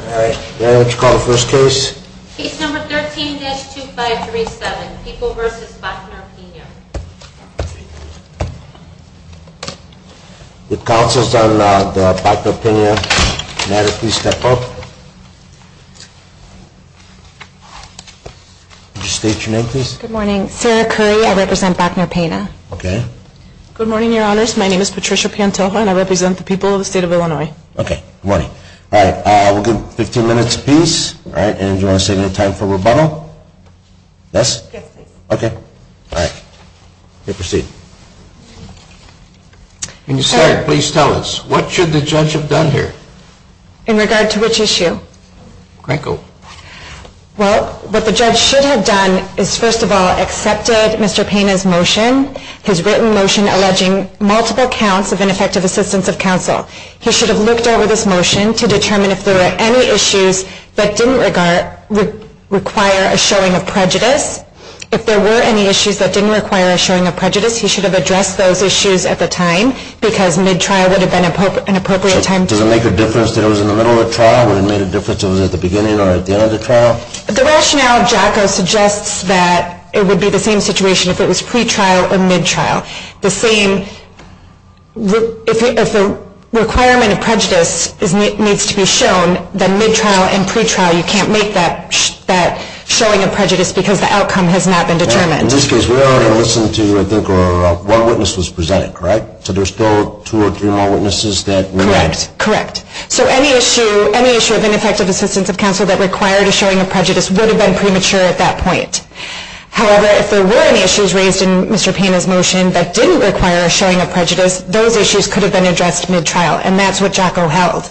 All right. May I know what you call the first case? Case number 13-2537, People v. Bachner-Pena. The counsels on the Bachner-Pena matter, please step up. Could you state your name, please? Good morning. Sarah Curry. I represent Bachner-Pena. Okay. Good morning, Your Honors. My name is Patricia Piantilho, and I represent the people of the state of Illinois. Okay. Good morning. All right. We'll give 15 minutes apiece. And do you want to save any time for rebuttal? Yes? Yes, please. Okay. All right. You may proceed. Ms. Curry, please tell us, what should the judge have done here? In regard to which issue? Crankle. Well, what the judge should have done is, first of all, accepted Mr. Pena's motion, his written motion alleging multiple counts of ineffective assistance of counsel. He should have looked over this motion to determine if there were any issues that didn't require a showing of prejudice. If there were any issues that didn't require a showing of prejudice, he should have addressed those issues at the time, because mid-trial would have been an appropriate time to do so. Does it make a difference that it was in the middle of a trial? Would it have made a difference if it was at the beginning or at the end of the trial? The rationale of JACO suggests that it would be the same situation if it was pre-trial or mid-trial. The same, if the requirement of prejudice needs to be shown, then mid-trial and pre-trial, you can't make that showing of prejudice because the outcome has not been determined. In this case, we only listened to, I think, one witness was presented, correct? So there's still two or three more witnesses that we need. Correct. Correct. So any issue of ineffective assistance of counsel that required a showing of prejudice would have been premature at that point. However, if there were any issues raised in Mr. Pena's motion that didn't require a showing of prejudice, those issues could have been addressed mid-trial, and that's what JACO held.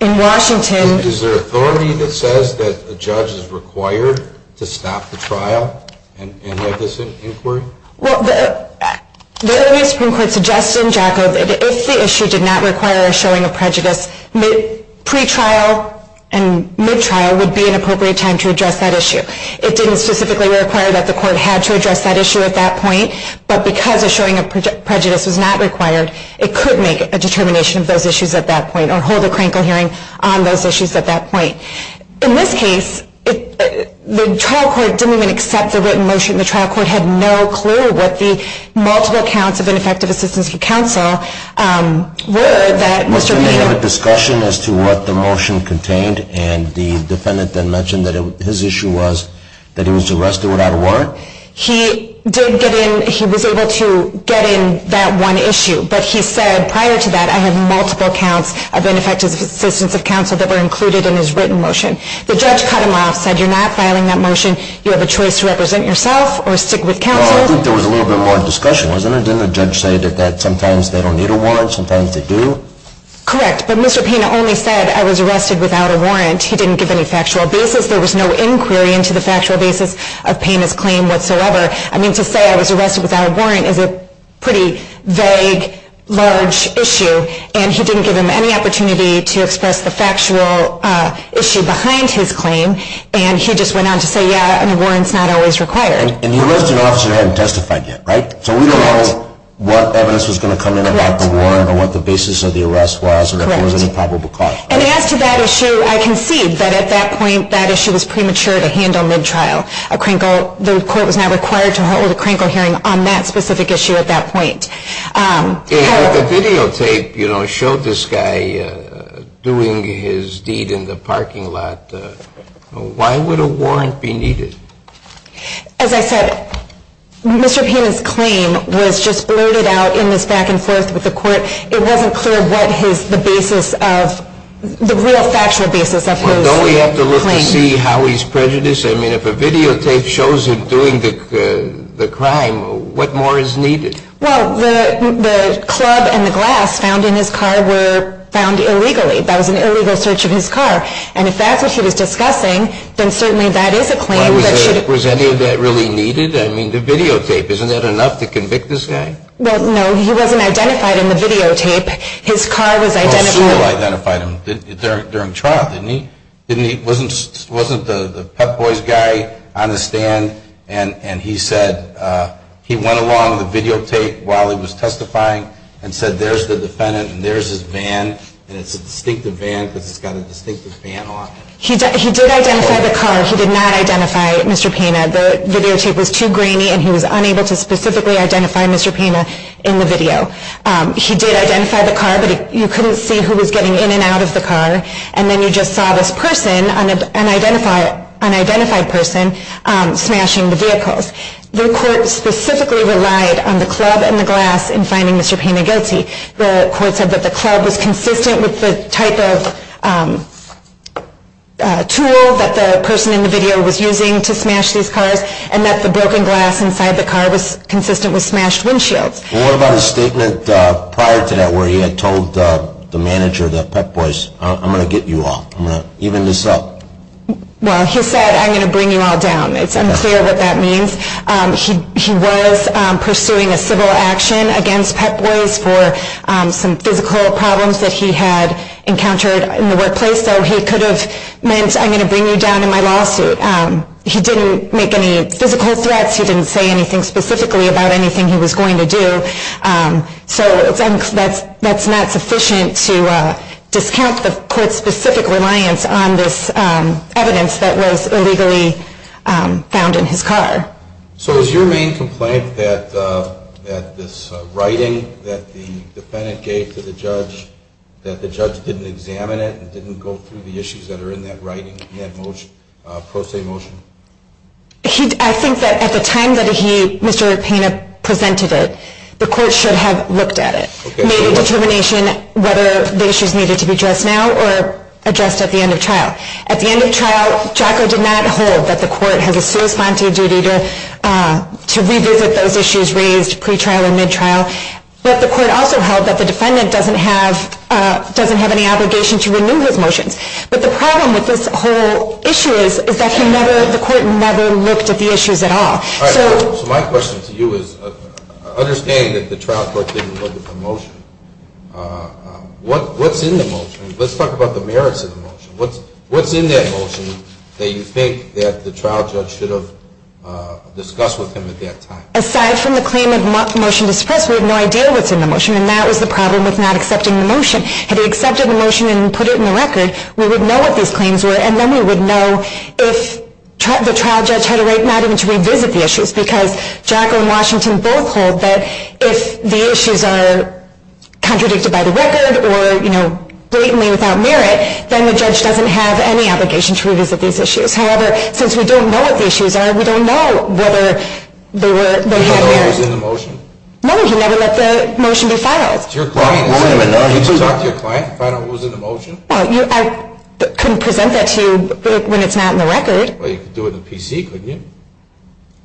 In Washington... Is there authority that says that a judge is required to stop the trial and have this inquiry? Well, the Supreme Court suggests in JACO that if the issue did not require a showing of prejudice, pre-trial and mid-trial would be an appropriate time to address that issue. It didn't specifically require that the court had to address that issue at that point, but because a showing of prejudice was not required, it could make a determination of those issues at that point or hold a crankle hearing on those issues at that point. In this case, the trial court didn't even accept the written motion. The trial court had no clue what the multiple counts of ineffective assistance of counsel were that Mr. Pena... Was there a discussion as to what the motion contained? And the defendant then mentioned that his issue was that he was arrested without a warrant? He did get in... he was able to get in that one issue, but he said prior to that, I have multiple counts of ineffective assistance of counsel that were included in his written motion. The judge cut him off, said you're not filing that motion, you have a choice to represent yourself or stick with counsel. Well, I think there was a little bit more discussion, wasn't there? Didn't the judge say that sometimes they don't need a warrant, sometimes they do? Correct, but Mr. Pena only said I was arrested without a warrant. He didn't give any factual basis. There was no inquiry into the factual basis of Pena's claim whatsoever. I mean, to say I was arrested without a warrant is a pretty vague, large issue, and he didn't give him any opportunity to express the factual issue behind his claim, and he just went on to say, yeah, a warrant's not always required. And the arrested officer hadn't testified yet, right? Correct. So we don't know what evidence was going to come in about the warrant or what the basis of the arrest was or if there was any probable cause. And as to that issue, I concede that at that point, that issue was premature to handle mid-trial. The court was not required to hold a Kranko hearing on that specific issue at that point. And the videotape showed this guy doing his deed in the parking lot. Why would a warrant be needed? As I said, Mr. Pena's claim was just blurted out in this back-and-forth with the court. It wasn't clear what the real factual basis of his claim was. Well, don't we have to look to see how he's prejudiced? I mean, if a videotape shows him doing the crime, what more is needed? Well, the club and the glass found in his car were found illegally. That was an illegal search of his car. And if that's what he was discussing, then certainly that is a claim that should be- Was any of that really needed? I mean, the videotape, isn't that enough to convict this guy? Well, no, he wasn't identified in the videotape. His car was identified- Well, Sewell identified him during trial, didn't he? Wasn't the Pep Boys guy on the stand and he said he went along with the videotape while he was testifying and said there's the defendant and there's his van, and it's a distinctive van because it's got a distinctive van on it. He did identify the car. He did not identify Mr. Pena. The videotape was too grainy and he was unable to specifically identify Mr. Pena in the video. He did identify the car, but you couldn't see who was getting in and out of the car. And then you just saw this person, an unidentified person, smashing the vehicles. The court specifically relied on the club and the glass in finding Mr. Pena guilty. The court said that the club was consistent with the type of tool that the person in the video was using to smash these cars and that the broken glass inside the car was consistent with smashed windshields. What about his statement prior to that where he had told the manager of the Pep Boys, I'm going to get you all, I'm going to even this up? Well, he said, I'm going to bring you all down. It's unclear what that means. He was pursuing a civil action against Pep Boys for some physical problems that he had encountered in the workplace. So he could have meant, I'm going to bring you down in my lawsuit. He didn't make any physical threats. He didn't say anything specifically about anything he was going to do. So that's not sufficient to discount the court's specific reliance on this evidence that was illegally found in his car. So is your main complaint that this writing that the defendant gave to the judge, that the judge didn't examine it and didn't go through the issues that are in that writing, in that pro se motion? I think that at the time that Mr. Pena presented it, the court should have looked at it, made a determination whether the issues needed to be addressed now or addressed at the end of trial. At the end of trial, Jocko did not hold that the court has a corresponding duty to revisit those issues raised pre-trial and mid-trial. But the court also held that the defendant doesn't have any obligation to renew his motions. But the problem with this whole issue is that the court never looked at the issues at all. So my question to you is, I understand that the trial court didn't look at the motion. What's in the motion? Let's talk about the merits of the motion. What's in that motion that you think that the trial judge should have discussed with him at that time? Aside from the claim of motion to suppress, we have no idea what's in the motion, and that was the problem with not accepting the motion. Had he accepted the motion and put it in the record, we would know what those claims were, and then we would know if the trial judge had a right not even to revisit the issues, because Jocko and Washington both hold that if the issues are contradicted by the record or blatantly without merit, then the judge doesn't have any obligation to revisit these issues. However, since we don't know what the issues are, we don't know whether they have merit. Did he not know what was in the motion? No, he never let the motion be filed. Did you talk to your client and find out what was in the motion? Well, I couldn't present that to you when it's not in the record. Well, you could do it in the PC, couldn't you?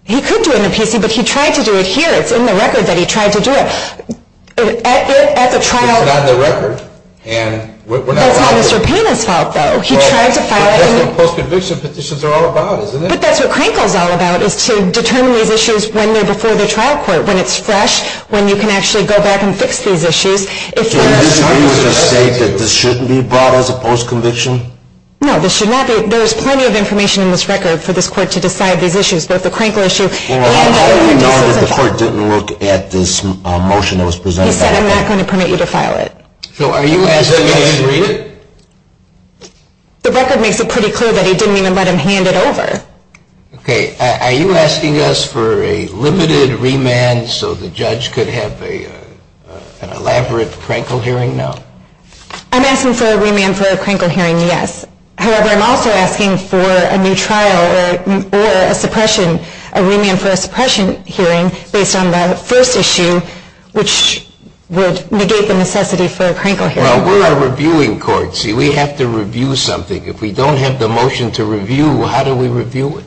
He could do it in the PC, but he tried to do it here. It's in the record that he tried to do it. It's not in the record, and we're not aware of it. That's not Mr. Payne's fault, though. That's what post-conviction petitions are all about, isn't it? But that's what Crankle's all about, is to determine these issues when they're before the trial court, when it's fresh, when you can actually go back and fix these issues. So you disagree with the state that this shouldn't be brought as a post-conviction? No, this should not be. There is plenty of information in this record for this court to decide these issues, but if the Crankle issue lands on a decision… Well, how do we know that the court didn't look at this motion that was presented to us? He said, I'm not going to permit you to file it. So are you asking us… Does that mean he didn't read it? The record makes it pretty clear that he didn't even let them hand it over. Okay, are you asking us for a limited remand so the judge could have an elaborate Crankle hearing now? I'm asking for a remand for a Crankle hearing, yes. However, I'm also asking for a new trial or a remand for a suppression hearing based on the first issue, which would negate the necessity for a Crankle hearing. Well, we're a reviewing court. See, we have to review something. If we don't have the motion to review, how do we review it?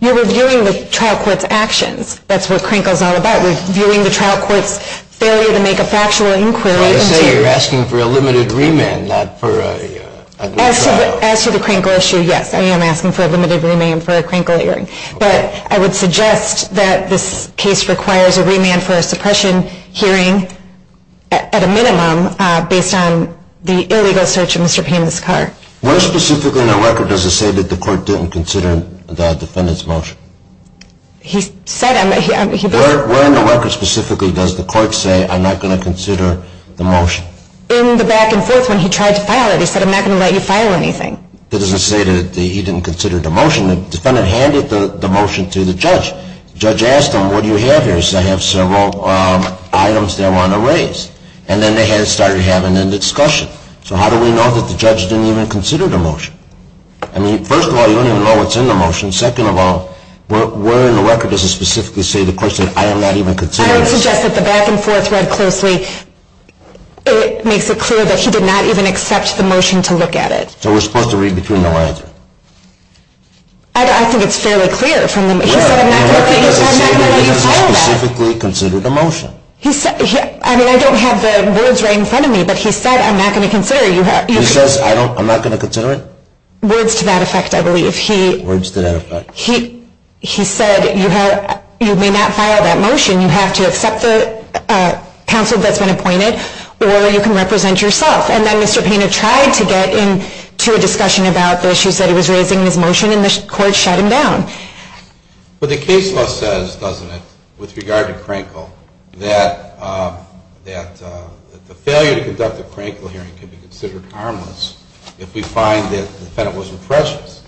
You're reviewing the trial court's actions. That's what Crankle is all about. We're reviewing the trial court's failure to make a factual inquiry into… So you're asking for a limited remand, not for a new trial. As to the Crankle issue, yes, I am asking for a limited remand for a Crankle hearing. But I would suggest that this case requires a remand for a suppression hearing at a minimum based on the illegal search of Mr. Payne's car. Where specifically in the record does it say that the court didn't consider the defendant's motion? He said… Where in the record specifically does the court say, I'm not going to consider the motion? In the back and forth when he tried to file it. He said, I'm not going to let you file anything. It doesn't say that he didn't consider the motion. The defendant handed the motion to the judge. The judge asked him, what do you have here? He said, I have several items that I want to raise. And then they started having a discussion. So how do we know that the judge didn't even consider the motion? I mean, first of all, you don't even know what's in the motion. Second of all, where in the record does it specifically say the court said, I am not even considering the motion? I would suggest that the back and forth read closely. It makes it clear that he did not even accept the motion to look at it. So we're supposed to read between the lines? I think it's fairly clear from the… He said, I'm not going to let you file that. It doesn't say that he didn't specifically consider the motion. I mean, I don't have the words right in front of me. But he said, I'm not going to consider it. He says, I'm not going to consider it? Words to that effect, I believe. Words to that effect. He said, you may not file that motion. You have to accept the counsel that's been appointed, or you can represent yourself. And then Mr. Painter tried to get into a discussion about the issues that he was raising in his motion. And the court shut him down. But the case law says, doesn't it, with regard to Crankle, that the failure to conduct a Crankle hearing could be considered harmless if we find that the defendant wasn't prejudiced.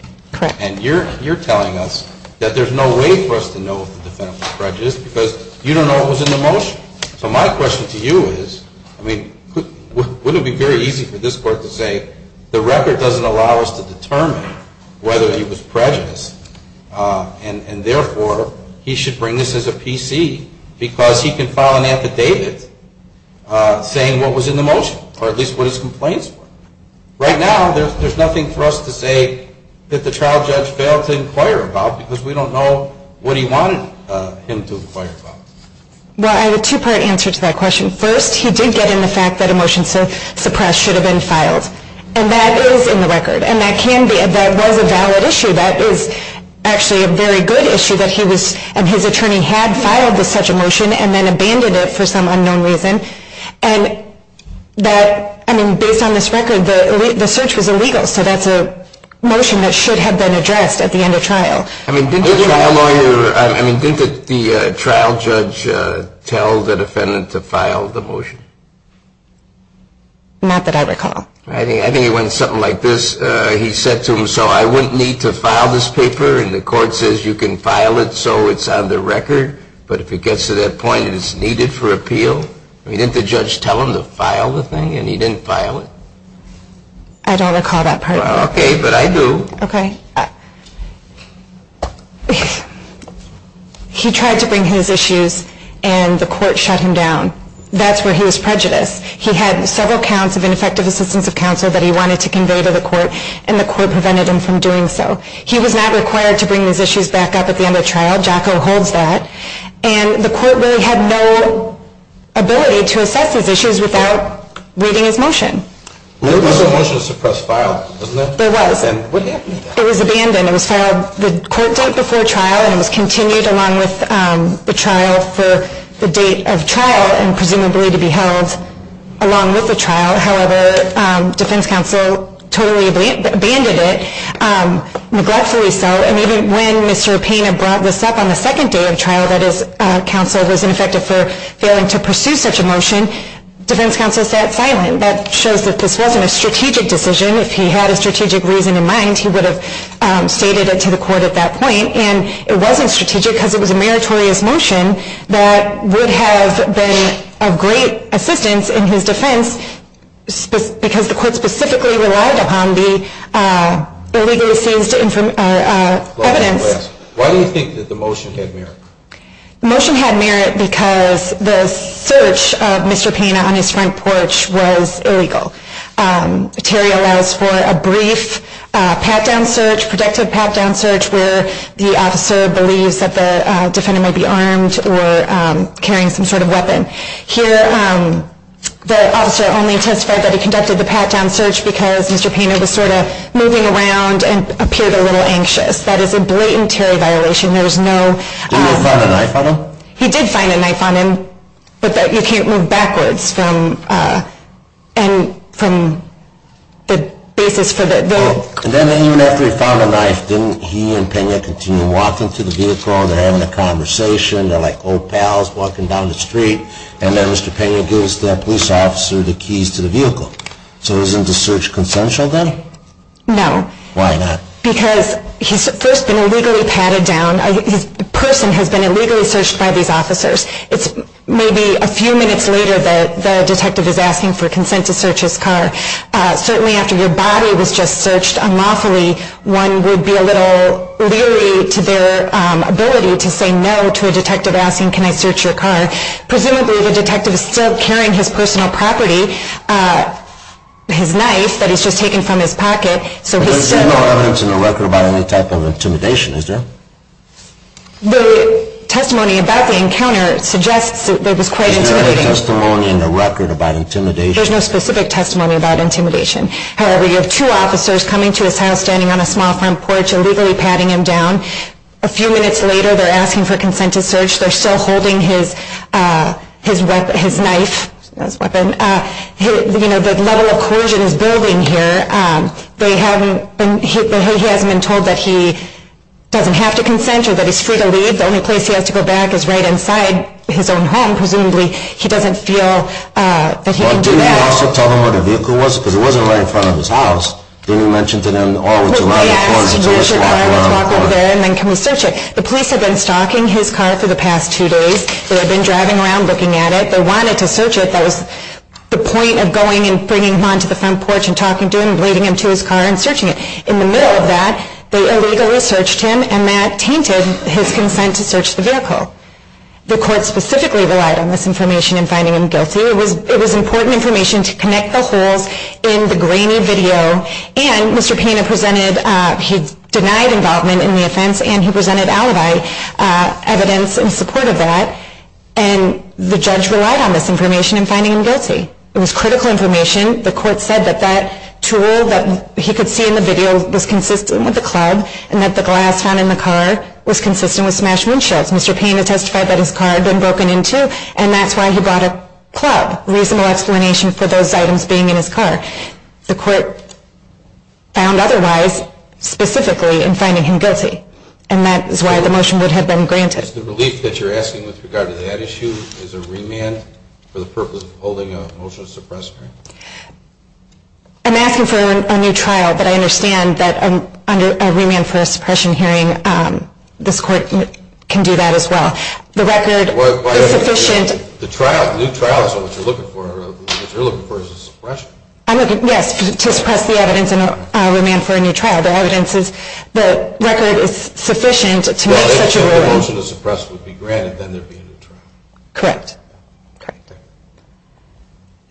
And you're telling us that there's no way for us to know if the defendant was prejudiced because you don't know what was in the motion. So my question to you is, I mean, wouldn't it be very easy for this court to say, the record doesn't allow us to determine whether he was prejudiced, and therefore he should bring this as a PC because he can file an affidavit saying what was in the motion, or at least what his complaints were. Right now, there's nothing for us to say that the trial judge failed to inquire about because we don't know what he wanted him to inquire about. Well, I have a two-part answer to that question. First, he did get in the fact that a motion suppressed should have been filed. And that is in the record. And that was a valid issue. That is actually a very good issue that his attorney had filed such a motion and then abandoned it for some unknown reason. And based on this record, the search was illegal, so that's a motion that should have been addressed at the end of trial. I mean, didn't the trial judge tell the defendant to file the motion? Not that I recall. I think it went something like this. He said to him, so I wouldn't need to file this paper, and the court says you can file it so it's on the record, but if it gets to that point, it is needed for appeal. I mean, didn't the judge tell him to file the thing, and he didn't file it? I don't recall that part. Okay, but I do. Okay. He tried to bring his issues, and the court shut him down. That's where he was prejudiced. He had several counts of ineffective assistance of counsel that he wanted to convey to the court, and the court prevented him from doing so. He was not required to bring his issues back up at the end of trial. Jocko holds that. And the court really had no ability to assess his issues without reading his motion. There was a motion to suppress file, wasn't there? There was. And what happened? It was abandoned. It was filed the court date before trial, and it was continued along with the trial for the date of trial and presumably to be held along with the trial. However, defense counsel totally abandoned it, regretfully so, and even when Mr. Pena brought this up on the second day of trial that his counsel was ineffective for failing to pursue such a motion, defense counsel sat silent. That shows that this wasn't a strategic decision. If he had a strategic reason in mind, he would have stated it to the court at that point, and it wasn't strategic because it was a meritorious motion that would have been of great assistance in his defense because the court specifically relied upon the illegally seized evidence. Why do you think that the motion had merit? The motion had merit because the search of Mr. Pena on his front porch was illegal. Terry allows for a brief pat-down search, productive pat-down search, where the officer believes that the defendant may be armed or carrying some sort of weapon. Here, the officer only testified that he conducted the pat-down search because Mr. Pena was sort of moving around and appeared a little anxious. That is a blatant Terry violation. There is no— Did you find a knife on him? He did find a knife on him, but you can't move backwards from— from the basis for the— Then even after he found a knife, didn't he and Pena continue walking to the vehicle? They're having a conversation. They're like old pals walking down the street, and then Mr. Pena gives the police officer the keys to the vehicle. So isn't the search consensual then? No. Why not? Because he's first been illegally patted down. His person has been illegally searched by these officers. It's maybe a few minutes later that the detective is asking for consent to search his car. Certainly after your body was just searched unlawfully, one would be a little leery to their ability to say no to a detective asking, can I search your car? Presumably the detective is still carrying his personal property, his knife that he's just taken from his pocket, so he's still— But there's no evidence in the record about any type of intimidation, is there? The testimony about the encounter suggests that it was quite intimidating. There's no testimony in the record about intimidation? There's no specific testimony about intimidation. However, you have two officers coming to his house, standing on a small front porch illegally patting him down. A few minutes later, they're asking for consent to search. They're still holding his knife, his weapon. You know, the level of coercion is building here. He hasn't been told that he doesn't have to consent or that he's free to leave. The only place he has to go back is right inside his own home. Presumably he doesn't feel that he can do that. But didn't you also tell them where the vehicle was? Because it wasn't right in front of his house. Didn't you mention to them, oh, would you like to— They asked, where's your car? Let's walk over there and then can we search it? The police have been stalking his car for the past two days. They have been driving around looking at it. They wanted to search it. That was the point of going and bringing him onto the front porch and talking to him and leading him to his car and searching it. In the middle of that, they illegally searched him, and that tainted his consent to search the vehicle. The court specifically relied on this information in finding him guilty. It was important information to connect the holes in the grainy video. And Mr. Pena presented—he denied involvement in the offense, and he presented alibi evidence in support of that. And the judge relied on this information in finding him guilty. It was critical information. The court said that that tool that he could see in the video was consistent with the club and that the glass found in the car was consistent with smashed windshields. Mr. Pena testified that his car had been broken into, and that's why he brought a club, reasonable explanation for those items being in his car. The court found otherwise specifically in finding him guilty, and that is why the motion would have been granted. Is the relief that you're asking with regard to that issue is a remand for the purpose of holding a motion to suppress hearing? I'm asking for a new trial, but I understand that under a remand for a suppression hearing, this court can do that as well. The record is sufficient— The trial—new trial is what you're looking for. What you're looking for is a suppression. I'm looking—yes, to suppress the evidence and remand for a new trial. The evidence is—the record is sufficient to make such a ruling. So your motion to suppress would be granted, then there'd be a new trial. Correct. Correct.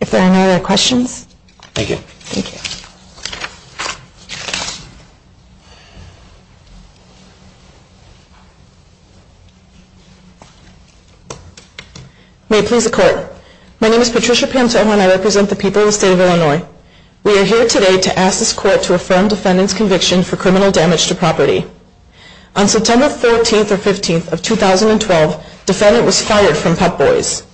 If there are no other questions— Thank you. Thank you. May it please the court. My name is Patricia Pantone, and I represent the people of the state of Illinois. We are here today to ask this court to affirm defendant's conviction for criminal damage to property. On September 14th or 15th of 2012, defendant was fired from Pep Boys.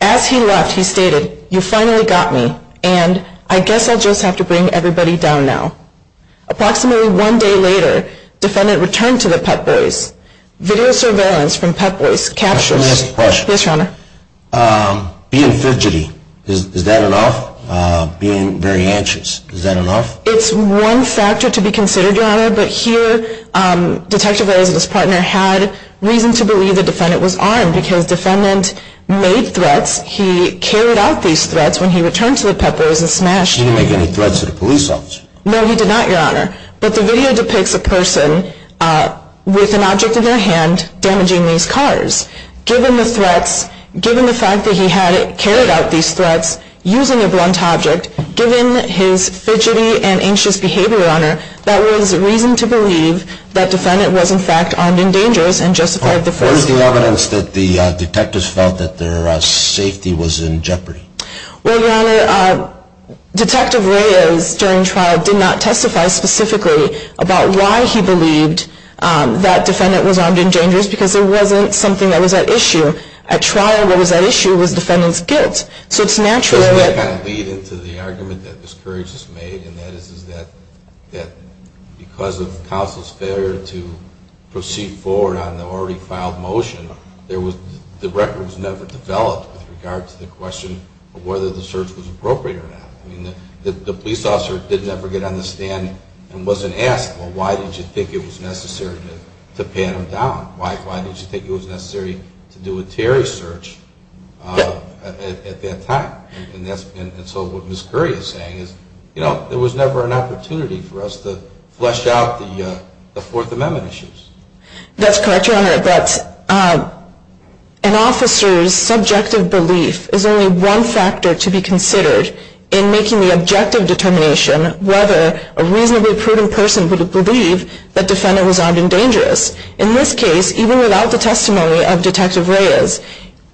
As he left, he stated, you finally got me, and I guess I'll just have to bring everybody down now. Approximately one day later, defendant returned to the Pep Boys. Video surveillance from Pep Boys captured— May I ask a question? Yes, your honor. Being fidgety, is that enough? Being very anxious, is that enough? It's one factor to be considered, your honor, but here, Detective Rose and his partner had reason to believe the defendant was armed, because defendant made threats. He carried out these threats when he returned to the Pep Boys and smashed— He didn't make any threats to the police officer. No, he did not, your honor. But the video depicts a person with an object in their hand damaging these cars. Given the threats, given the fact that he had carried out these threats using a blunt object, given his fidgety and anxious behavior, your honor, that was reason to believe that defendant was, in fact, armed and dangerous and justified the first— What was the evidence that the detectives felt that their safety was in jeopardy? Well, your honor, Detective Reyes, during trial, did not testify specifically about why he believed that defendant was armed and dangerous, because there wasn't something that was at issue. At trial, what was at issue was defendant's guilt, so it's natural that— There's an argument that Ms. Courage has made, and that is that because of counsel's failure to proceed forward on the already filed motion, there was—the record was never developed with regard to the question of whether the search was appropriate or not. I mean, the police officer did never get on the stand and wasn't asked, well, why did you think it was necessary to pat him down? Why did you think it was necessary to do a Terry search at that time? And so what Ms. Courage is saying is, you know, there was never an opportunity for us to flesh out the Fourth Amendment issues. That's correct, your honor, but an officer's subjective belief is only one factor to be considered in making the objective determination whether a reasonably prudent person would believe that defendant was armed and dangerous. In this case, even without the testimony of Detective Reyes,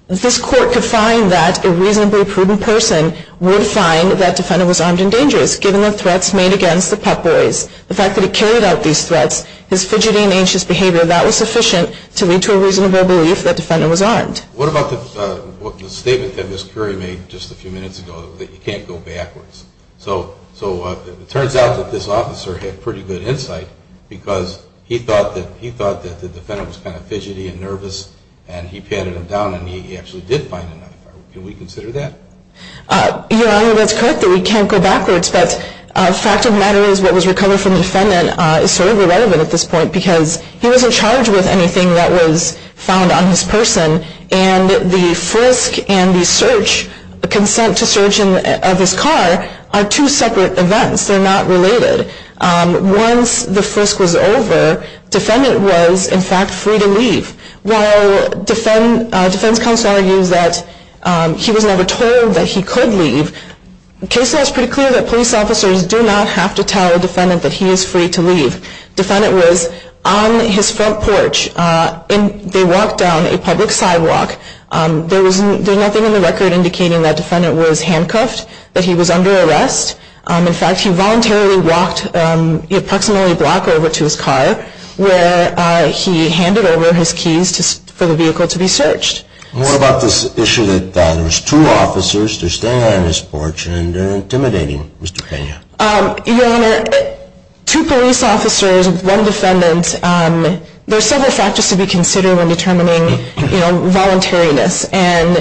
this court could find that a reasonably prudent person would find that defendant was armed and dangerous given the threats made against the Pep Boys. The fact that he carried out these threats, his fidgety and anxious behavior, that was sufficient to lead to a reasonable belief that defendant was armed. What about the statement that Ms. Courage made just a few minutes ago that you can't go backwards? So it turns out that this officer had pretty good insight because he thought that the defendant was kind of fidgety and nervous and he patted him down and he actually did find another firearm. Can we consider that? Your honor, that's correct that we can't go backwards, but the fact of the matter is what was recovered from the defendant is sort of irrelevant at this point because he wasn't charged with anything that was found on his person and the frisk and the search, the consent to search of his car, are two separate events. They're not related. Once the frisk was over, defendant was in fact free to leave. While defense counsel argues that he was never told that he could leave, the case law is pretty clear that police officers do not have to tell a defendant that he is free to leave. Defendant was on his front porch and they walked down a public sidewalk. There's nothing in the record indicating that defendant was handcuffed, that he was under arrest. In fact, he voluntarily walked approximately a block over to his car where he handed over his keys for the vehicle to be searched. What about this issue that there was two officers, they're standing on his porch and they're intimidating Mr. Pena? Your honor, two police officers, one defendant, there's several factors to be considered when determining voluntariness and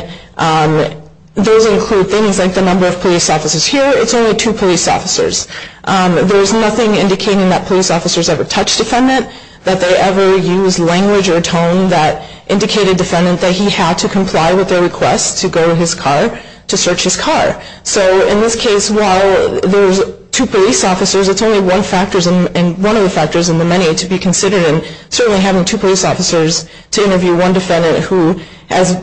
those include things like the number of police officers here. It's only two police officers. There's nothing indicating that police officers ever touched defendant, that they ever used language or tone that indicated defendant that he had to comply with their request to go to his car to search his car. So in this case, while there's two police officers, it's only one of the factors in the many to be considered and certainly having two police officers to interview one defendant who has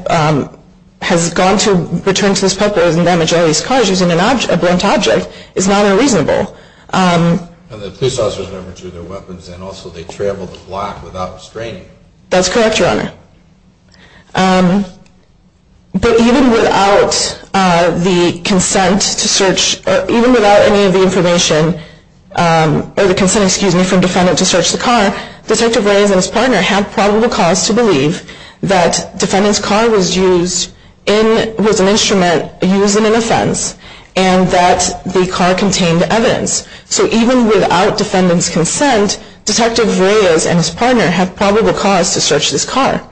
gone to return to this public and damaged all these cars using a blunt object is not unreasonable. And the police officers never drew their weapons and also they traveled the block without restraining. That's correct, your honor. But even without the consent to search, even without any of the information, or the consent, excuse me, from defendant to search the car, Detective Reyes and his partner have probable cause to believe that defendant's car was used in, was an instrument used in an offense and that the car contained evidence. So even without defendant's consent, Detective Reyes and his partner have probable cause to search this car.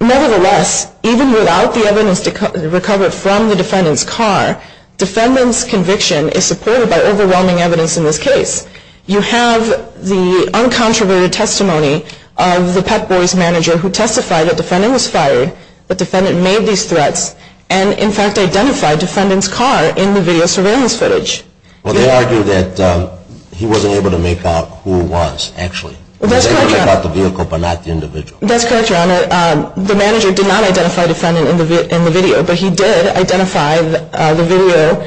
Nevertheless, even without the evidence recovered from the defendant's car, defendant's conviction is supported by overwhelming evidence in this case. You have the uncontroverted testimony of the Pep Boys manager who testified that defendant was fired, that defendant made these threats, and in fact identified defendant's car in the video surveillance footage. Well, they argue that he wasn't able to make out who it was actually. He was able to check out the vehicle but not the individual. That's correct, your honor. The manager did not identify defendant in the video, but he did identify the video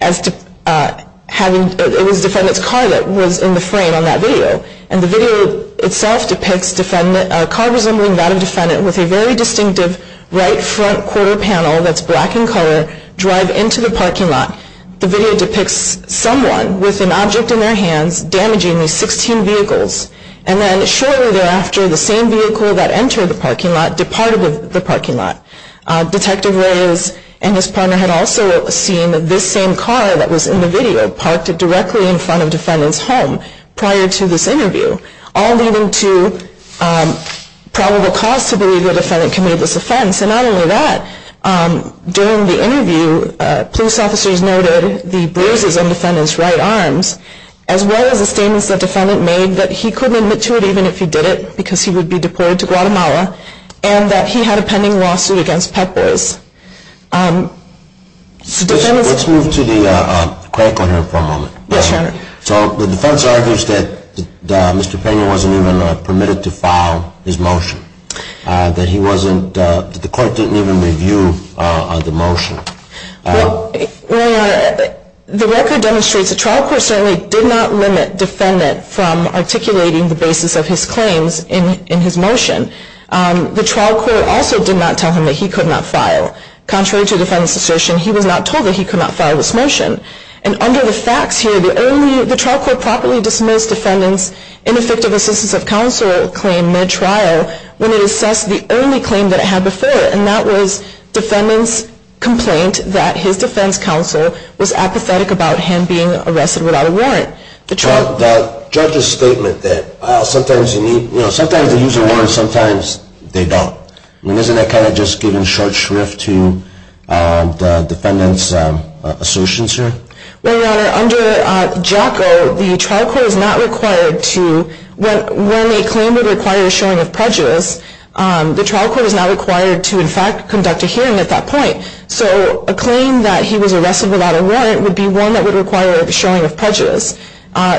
as it was defendant's car that was in the frame on that video. And the video itself depicts a car resembling that of defendant with a very distinctive right front quarter panel that's black in color drive into the parking lot. The video depicts someone with an object in their hands damaging these 16 vehicles. And then shortly thereafter, the same vehicle that entered the parking lot departed the parking lot. Detective Reyes and his partner had also seen this same car that was in the video parked directly in front of defendant's home prior to this interview, all leading to probable cause to believe the defendant committed this offense. And not only that, during the interview, police officers noted the bruises on defendant's right arms, as well as the statements that defendant made that he couldn't admit to it even if he did it because he would be deported to Guatemala, and that he had a pending lawsuit against Pep Boys. Let's move to the critical here for a moment. Yes, your honor. So the defense argues that Mr. Pena wasn't even permitted to file his motion, that the court didn't even review the motion. Well, your honor, the record demonstrates the trial court certainly did not limit defendant from articulating the basis of his claims in his motion. The trial court also did not tell him that he could not file. Contrary to defendant's assertion, he was not told that he could not file this motion. And under the facts here, the trial court properly dismissed defendant's ineffective assistance of counsel claim mid-trial when it assessed the only claim that it had before, and that was defendant's complaint that his defense counsel was apathetic about him being arrested without a warrant. The judge's statement that sometimes they use a warrant, sometimes they don't. I mean, isn't that kind of just giving short shrift to the defendant's assertions here? Well, your honor, under JACO, the trial court is not required to, when a claim would require a showing of prejudice, the trial court is not required to, in fact, conduct a hearing at that point. So a claim that he was arrested without a warrant would be one that would require a showing of prejudice.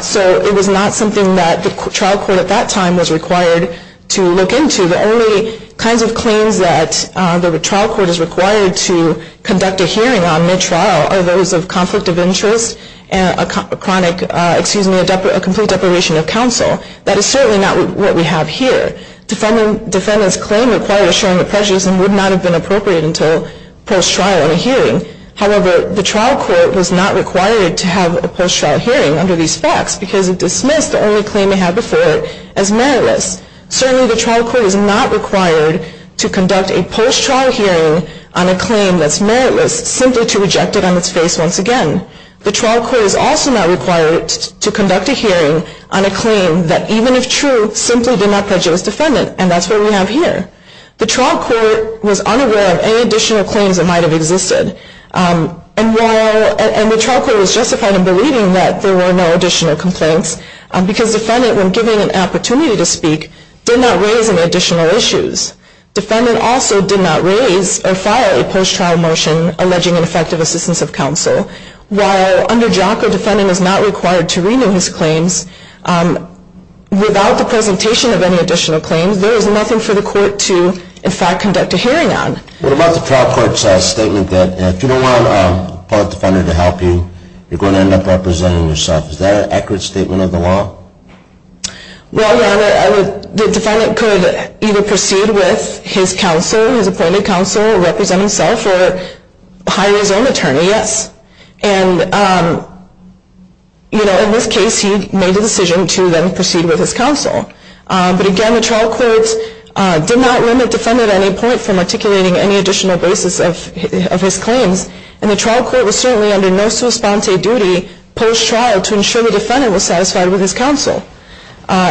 So it was not something that the trial court at that time was required to look into. The only kinds of claims that the trial court is required to conduct a hearing on mid-trial are those of conflict of interest and a chronic, excuse me, a complete deprivation of counsel. That is certainly not what we have here. Defendant's claim required a showing of prejudice and would not have been appropriate until post-trial in a hearing. However, the trial court was not required to have a post-trial hearing under these facts because it dismissed the only claim it had before it as meritless. Certainly the trial court is not required to conduct a post-trial hearing on a claim that's meritless simply to reject it on its face once again. The trial court is also not required to conduct a hearing on a claim that, even if true, simply did not prejudice defendant, and that's what we have here. The trial court was unaware of any additional claims that might have existed, and the trial court was justified in believing that there were no additional complaints because defendant, when given an opportunity to speak, did not raise any additional issues. Defendant also did not raise or fire a post-trial motion alleging ineffective assistance of counsel. While under JACA, defendant is not required to renew his claims, without the presentation of any additional claims, there is nothing for the court to, in fact, conduct a hearing on. What about the trial court's statement that if you don't want a public defender to help you, you're going to end up representing yourself? Is that an accurate statement of the law? Well, Your Honor, the defendant could either proceed with his counsel, his appointed counsel, represent himself, or hire his own attorney, yes. And, you know, in this case, he made a decision to then proceed with his counsel. But again, the trial court did not limit defendant at any point from articulating any additional basis of his claims, and the trial court was certainly under no sui sponte duty post-trial to ensure the defendant was satisfied with his counsel.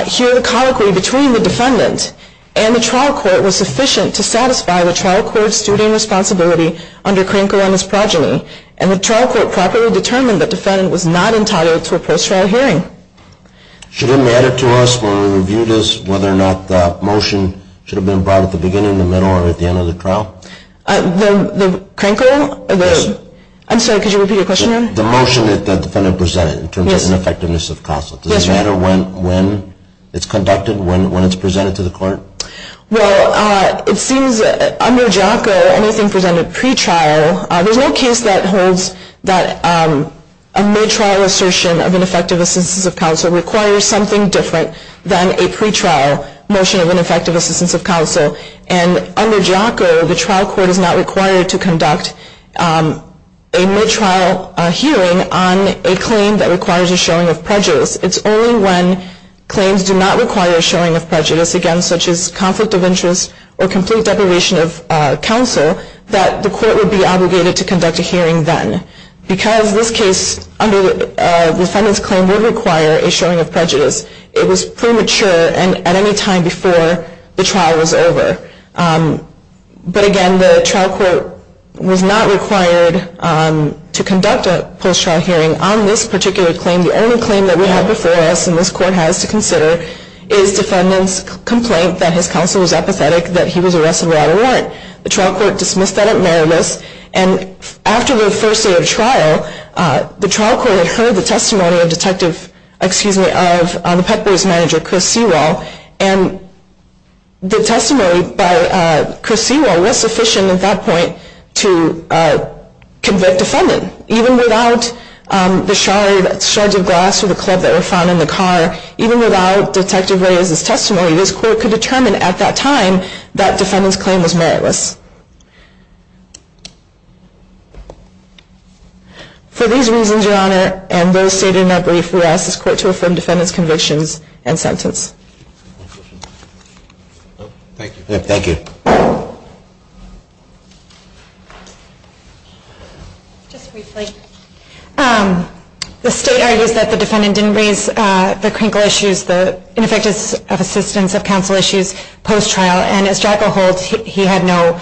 Here, the colloquy between the defendant and the trial court was sufficient to satisfy the trial court's student responsibility under Krenkel and his progeny, and the trial court properly determined the defendant was not entitled to a post-trial hearing. Should it matter to us when we review this whether or not the motion should have been brought at the beginning, the middle, or at the end of the trial? The Krenkel? Yes. I'm sorry, could you repeat your question, Your Honor? The motion that the defendant presented in terms of ineffectiveness of counsel. Yes. Does it matter when it's conducted, when it's presented to the court? Well, it seems under JACO anything presented pre-trial, there's no case that holds that a mid-trial assertion of ineffectiveness of counsel requires something different than a pre-trial motion of ineffectiveness of counsel. And under JACO, the trial court is not required to conduct a mid-trial hearing on a claim that requires a showing of prejudice. It's only when claims do not require a showing of prejudice, again, such as conflict of interest or complete deprivation of counsel, that the court would be obligated to conduct a hearing then. Because this case under the defendant's claim would require a showing of prejudice, it was premature at any time before the trial was over. But again, the trial court was not required to conduct a post-trial hearing on this particular claim. The only claim that we have before us, and this court has to consider, is defendant's complaint that his counsel was apathetic, that he was arrested without a warrant. The trial court dismissed that at Meribus. And after the first day of trial, the trial court had heard the testimony of Detective, excuse me, of the Pet Boys manager, Chris Sewell. And the testimony by Chris Sewell was sufficient at that point to convict defendant. And even without the shards of glass or the club that were found in the car, even without Detective Ray's testimony, this court could determine at that time that defendant's claim was meritless. For these reasons, Your Honor, and those stated in that brief, we ask this court to affirm defendant's convictions and sentence. Thank you. Thank you. The state argues that the defendant didn't raise the crinkle issues, the ineffectiveness of assistance of counsel issues post-trial, and as Jacko holds, he had no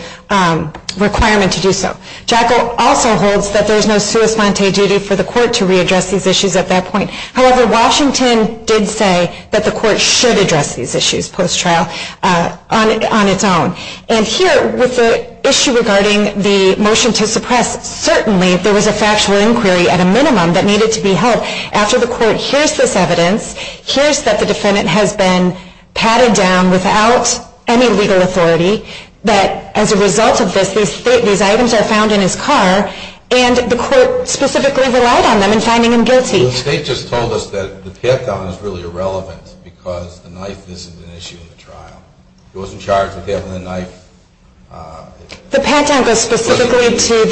requirement to do so. Jacko also holds that there's no sui sponte duty for the court to readdress these issues at that point. However, Washington did say that the court should address these issues post-trial on its own. And here, with the issue regarding the motion to suppress, certainly there was a factual inquiry at a minimum that needed to be held. After the court hears this evidence, hears that the defendant has been patted down without any legal authority, that as a result of this, these items are found in his car, and the court specifically relied on them in finding him guilty. The state just told us that the pat-down is really irrelevant because the knife isn't an issue in the trial. He wasn't charged with handling the knife. The pat-down goes specifically to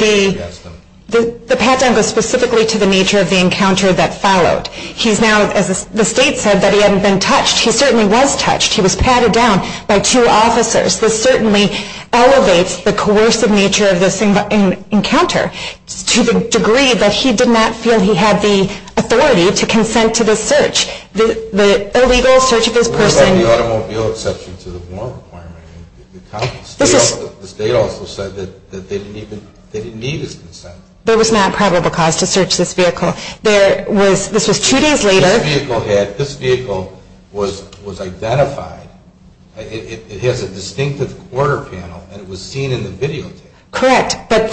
the nature of the encounter that followed. He's now, as the state said, that he hadn't been touched. He certainly was touched. He was patted down by two officers. This certainly elevates the coercive nature of this encounter to the degree that he did not feel he had the authority to consent to this search, the illegal search of his person. There was no automobile exception to the warrant requirement. The state also said that they didn't need his consent. There was not probable cause to search this vehicle. This was two days later. This vehicle was identified. It has a distinctive quarter panel, and it was seen in the videotape. Correct, but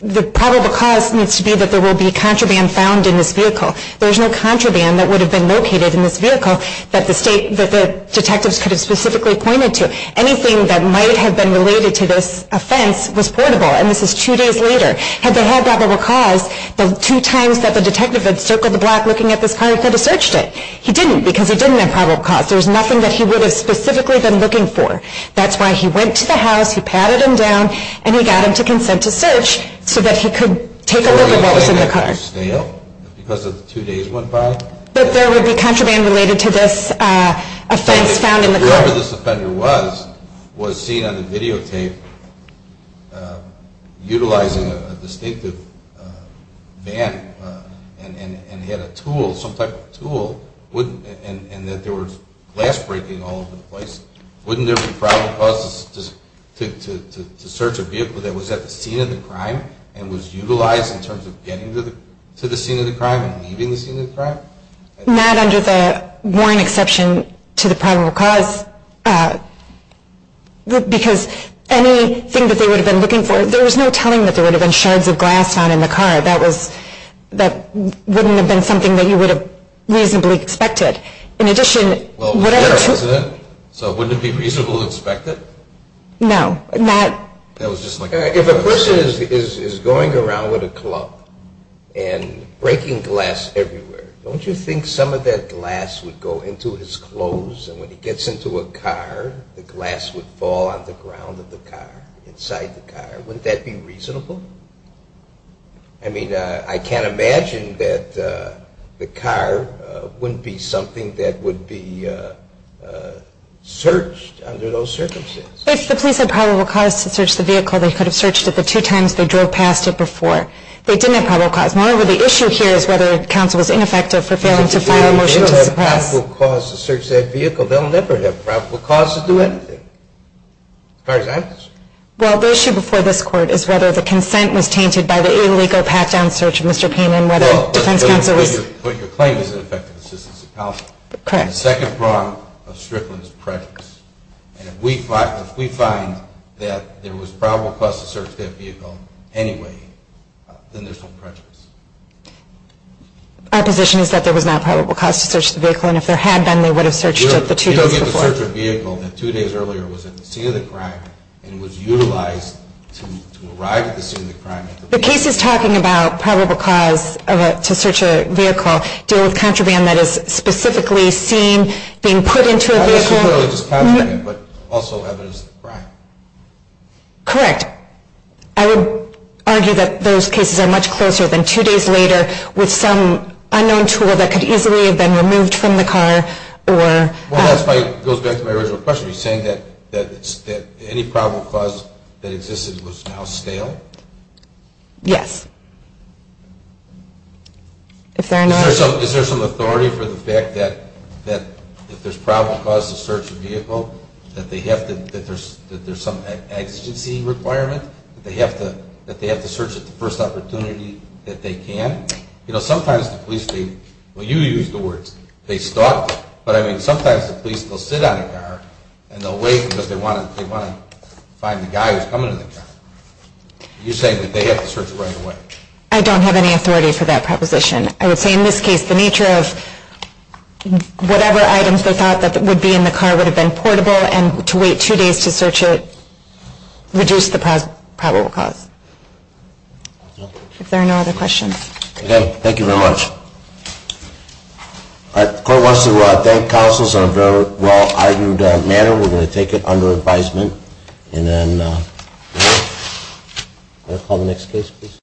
the probable cause needs to be that there will be contraband found in this vehicle. There's no contraband that would have been located in this vehicle that the detectives could have specifically pointed to. Anything that might have been related to this offense was portable, and this is two days later. Had they had probable cause, the two times that the detective had circled the block looking at this car, he could have searched it. He didn't because he didn't have probable cause. There's nothing that he would have specifically been looking for. That's why he went to the house, he patted him down, and he got him to consent to search so that he could take a look at what was in the car. It was stale because the two days went by. But there would be contraband related to this offense found in the car. Whoever this offender was, was seen on the videotape utilizing a distinctive van and had a tool, some type of tool, and that there was glass breaking all over the place. Wouldn't there be probable causes to search a vehicle that was at the scene of the crime and was utilized in terms of getting to the scene of the crime and leaving the scene of the crime? Not under the warrant exception to the probable cause because anything that they would have been looking for, there was no telling that there would have been shards of glass found in the car. That wouldn't have been something that you would have reasonably expected. In addition, whatever tool... So wouldn't it be reasonable to expect it? No. If a person is going around with a club and breaking glass everywhere, don't you think some of that glass would go into his clothes and when he gets into a car the glass would fall on the ground of the car, inside the car? Wouldn't that be reasonable? I mean, I can't imagine that the car wouldn't be something that would be searched under those circumstances. If the police had probable cause to search the vehicle, they could have searched it the two times they drove past it before. They didn't have probable cause. Moreover, the issue here is whether counsel was ineffective for failing to file a motion to suppress. They don't have probable cause to search that vehicle. They'll never have probable cause to do anything. For example? Well, the issue before this Court is whether the consent was tainted by the illegal pat-down search of Mr. Payne and whether defense counsel was... Well, let me put your claim as ineffective assistance to counsel. Correct. The second prong of Strickland's prejudice. And if we find that there was probable cause to search that vehicle anyway, then there's no prejudice. Our position is that there was not probable cause to search the vehicle and if there had been, they would have searched it the two days before. You don't get to search a vehicle that two days earlier was in the scene of the crime and was utilized to arrive at the scene of the crime. The case is talking about probable cause to search a vehicle, dealing with contraband that is specifically seen being put into a vehicle... The case is clearly just contraband but also evidence of crime. Correct. I would argue that those cases are much closer than two days later with some unknown tool that could easily have been removed from the car or... Well, that goes back to my original question. Are you saying that any probable cause that existed was now stale? Yes. If there are no... Is there some authority for the fact that if there's probable cause to search a vehicle, that there's some exigency requirement, that they have to search it the first opportunity that they can? You know, sometimes the police, well, you used the words, they stalk, but I mean sometimes the police will sit on a car and they'll wait because they want to find the guy who's coming in the car. Are you saying that they have to search it right away? I don't have any authority for that proposition. I would say in this case the nature of whatever items they thought that would be in the car would have been portable and to wait two days to search it reduced the probable cause. If there are no other questions. Okay. Thank you very much. The court wants to thank counsels on a very well-argued matter. We're going to take it under advisement and then call the next case, please.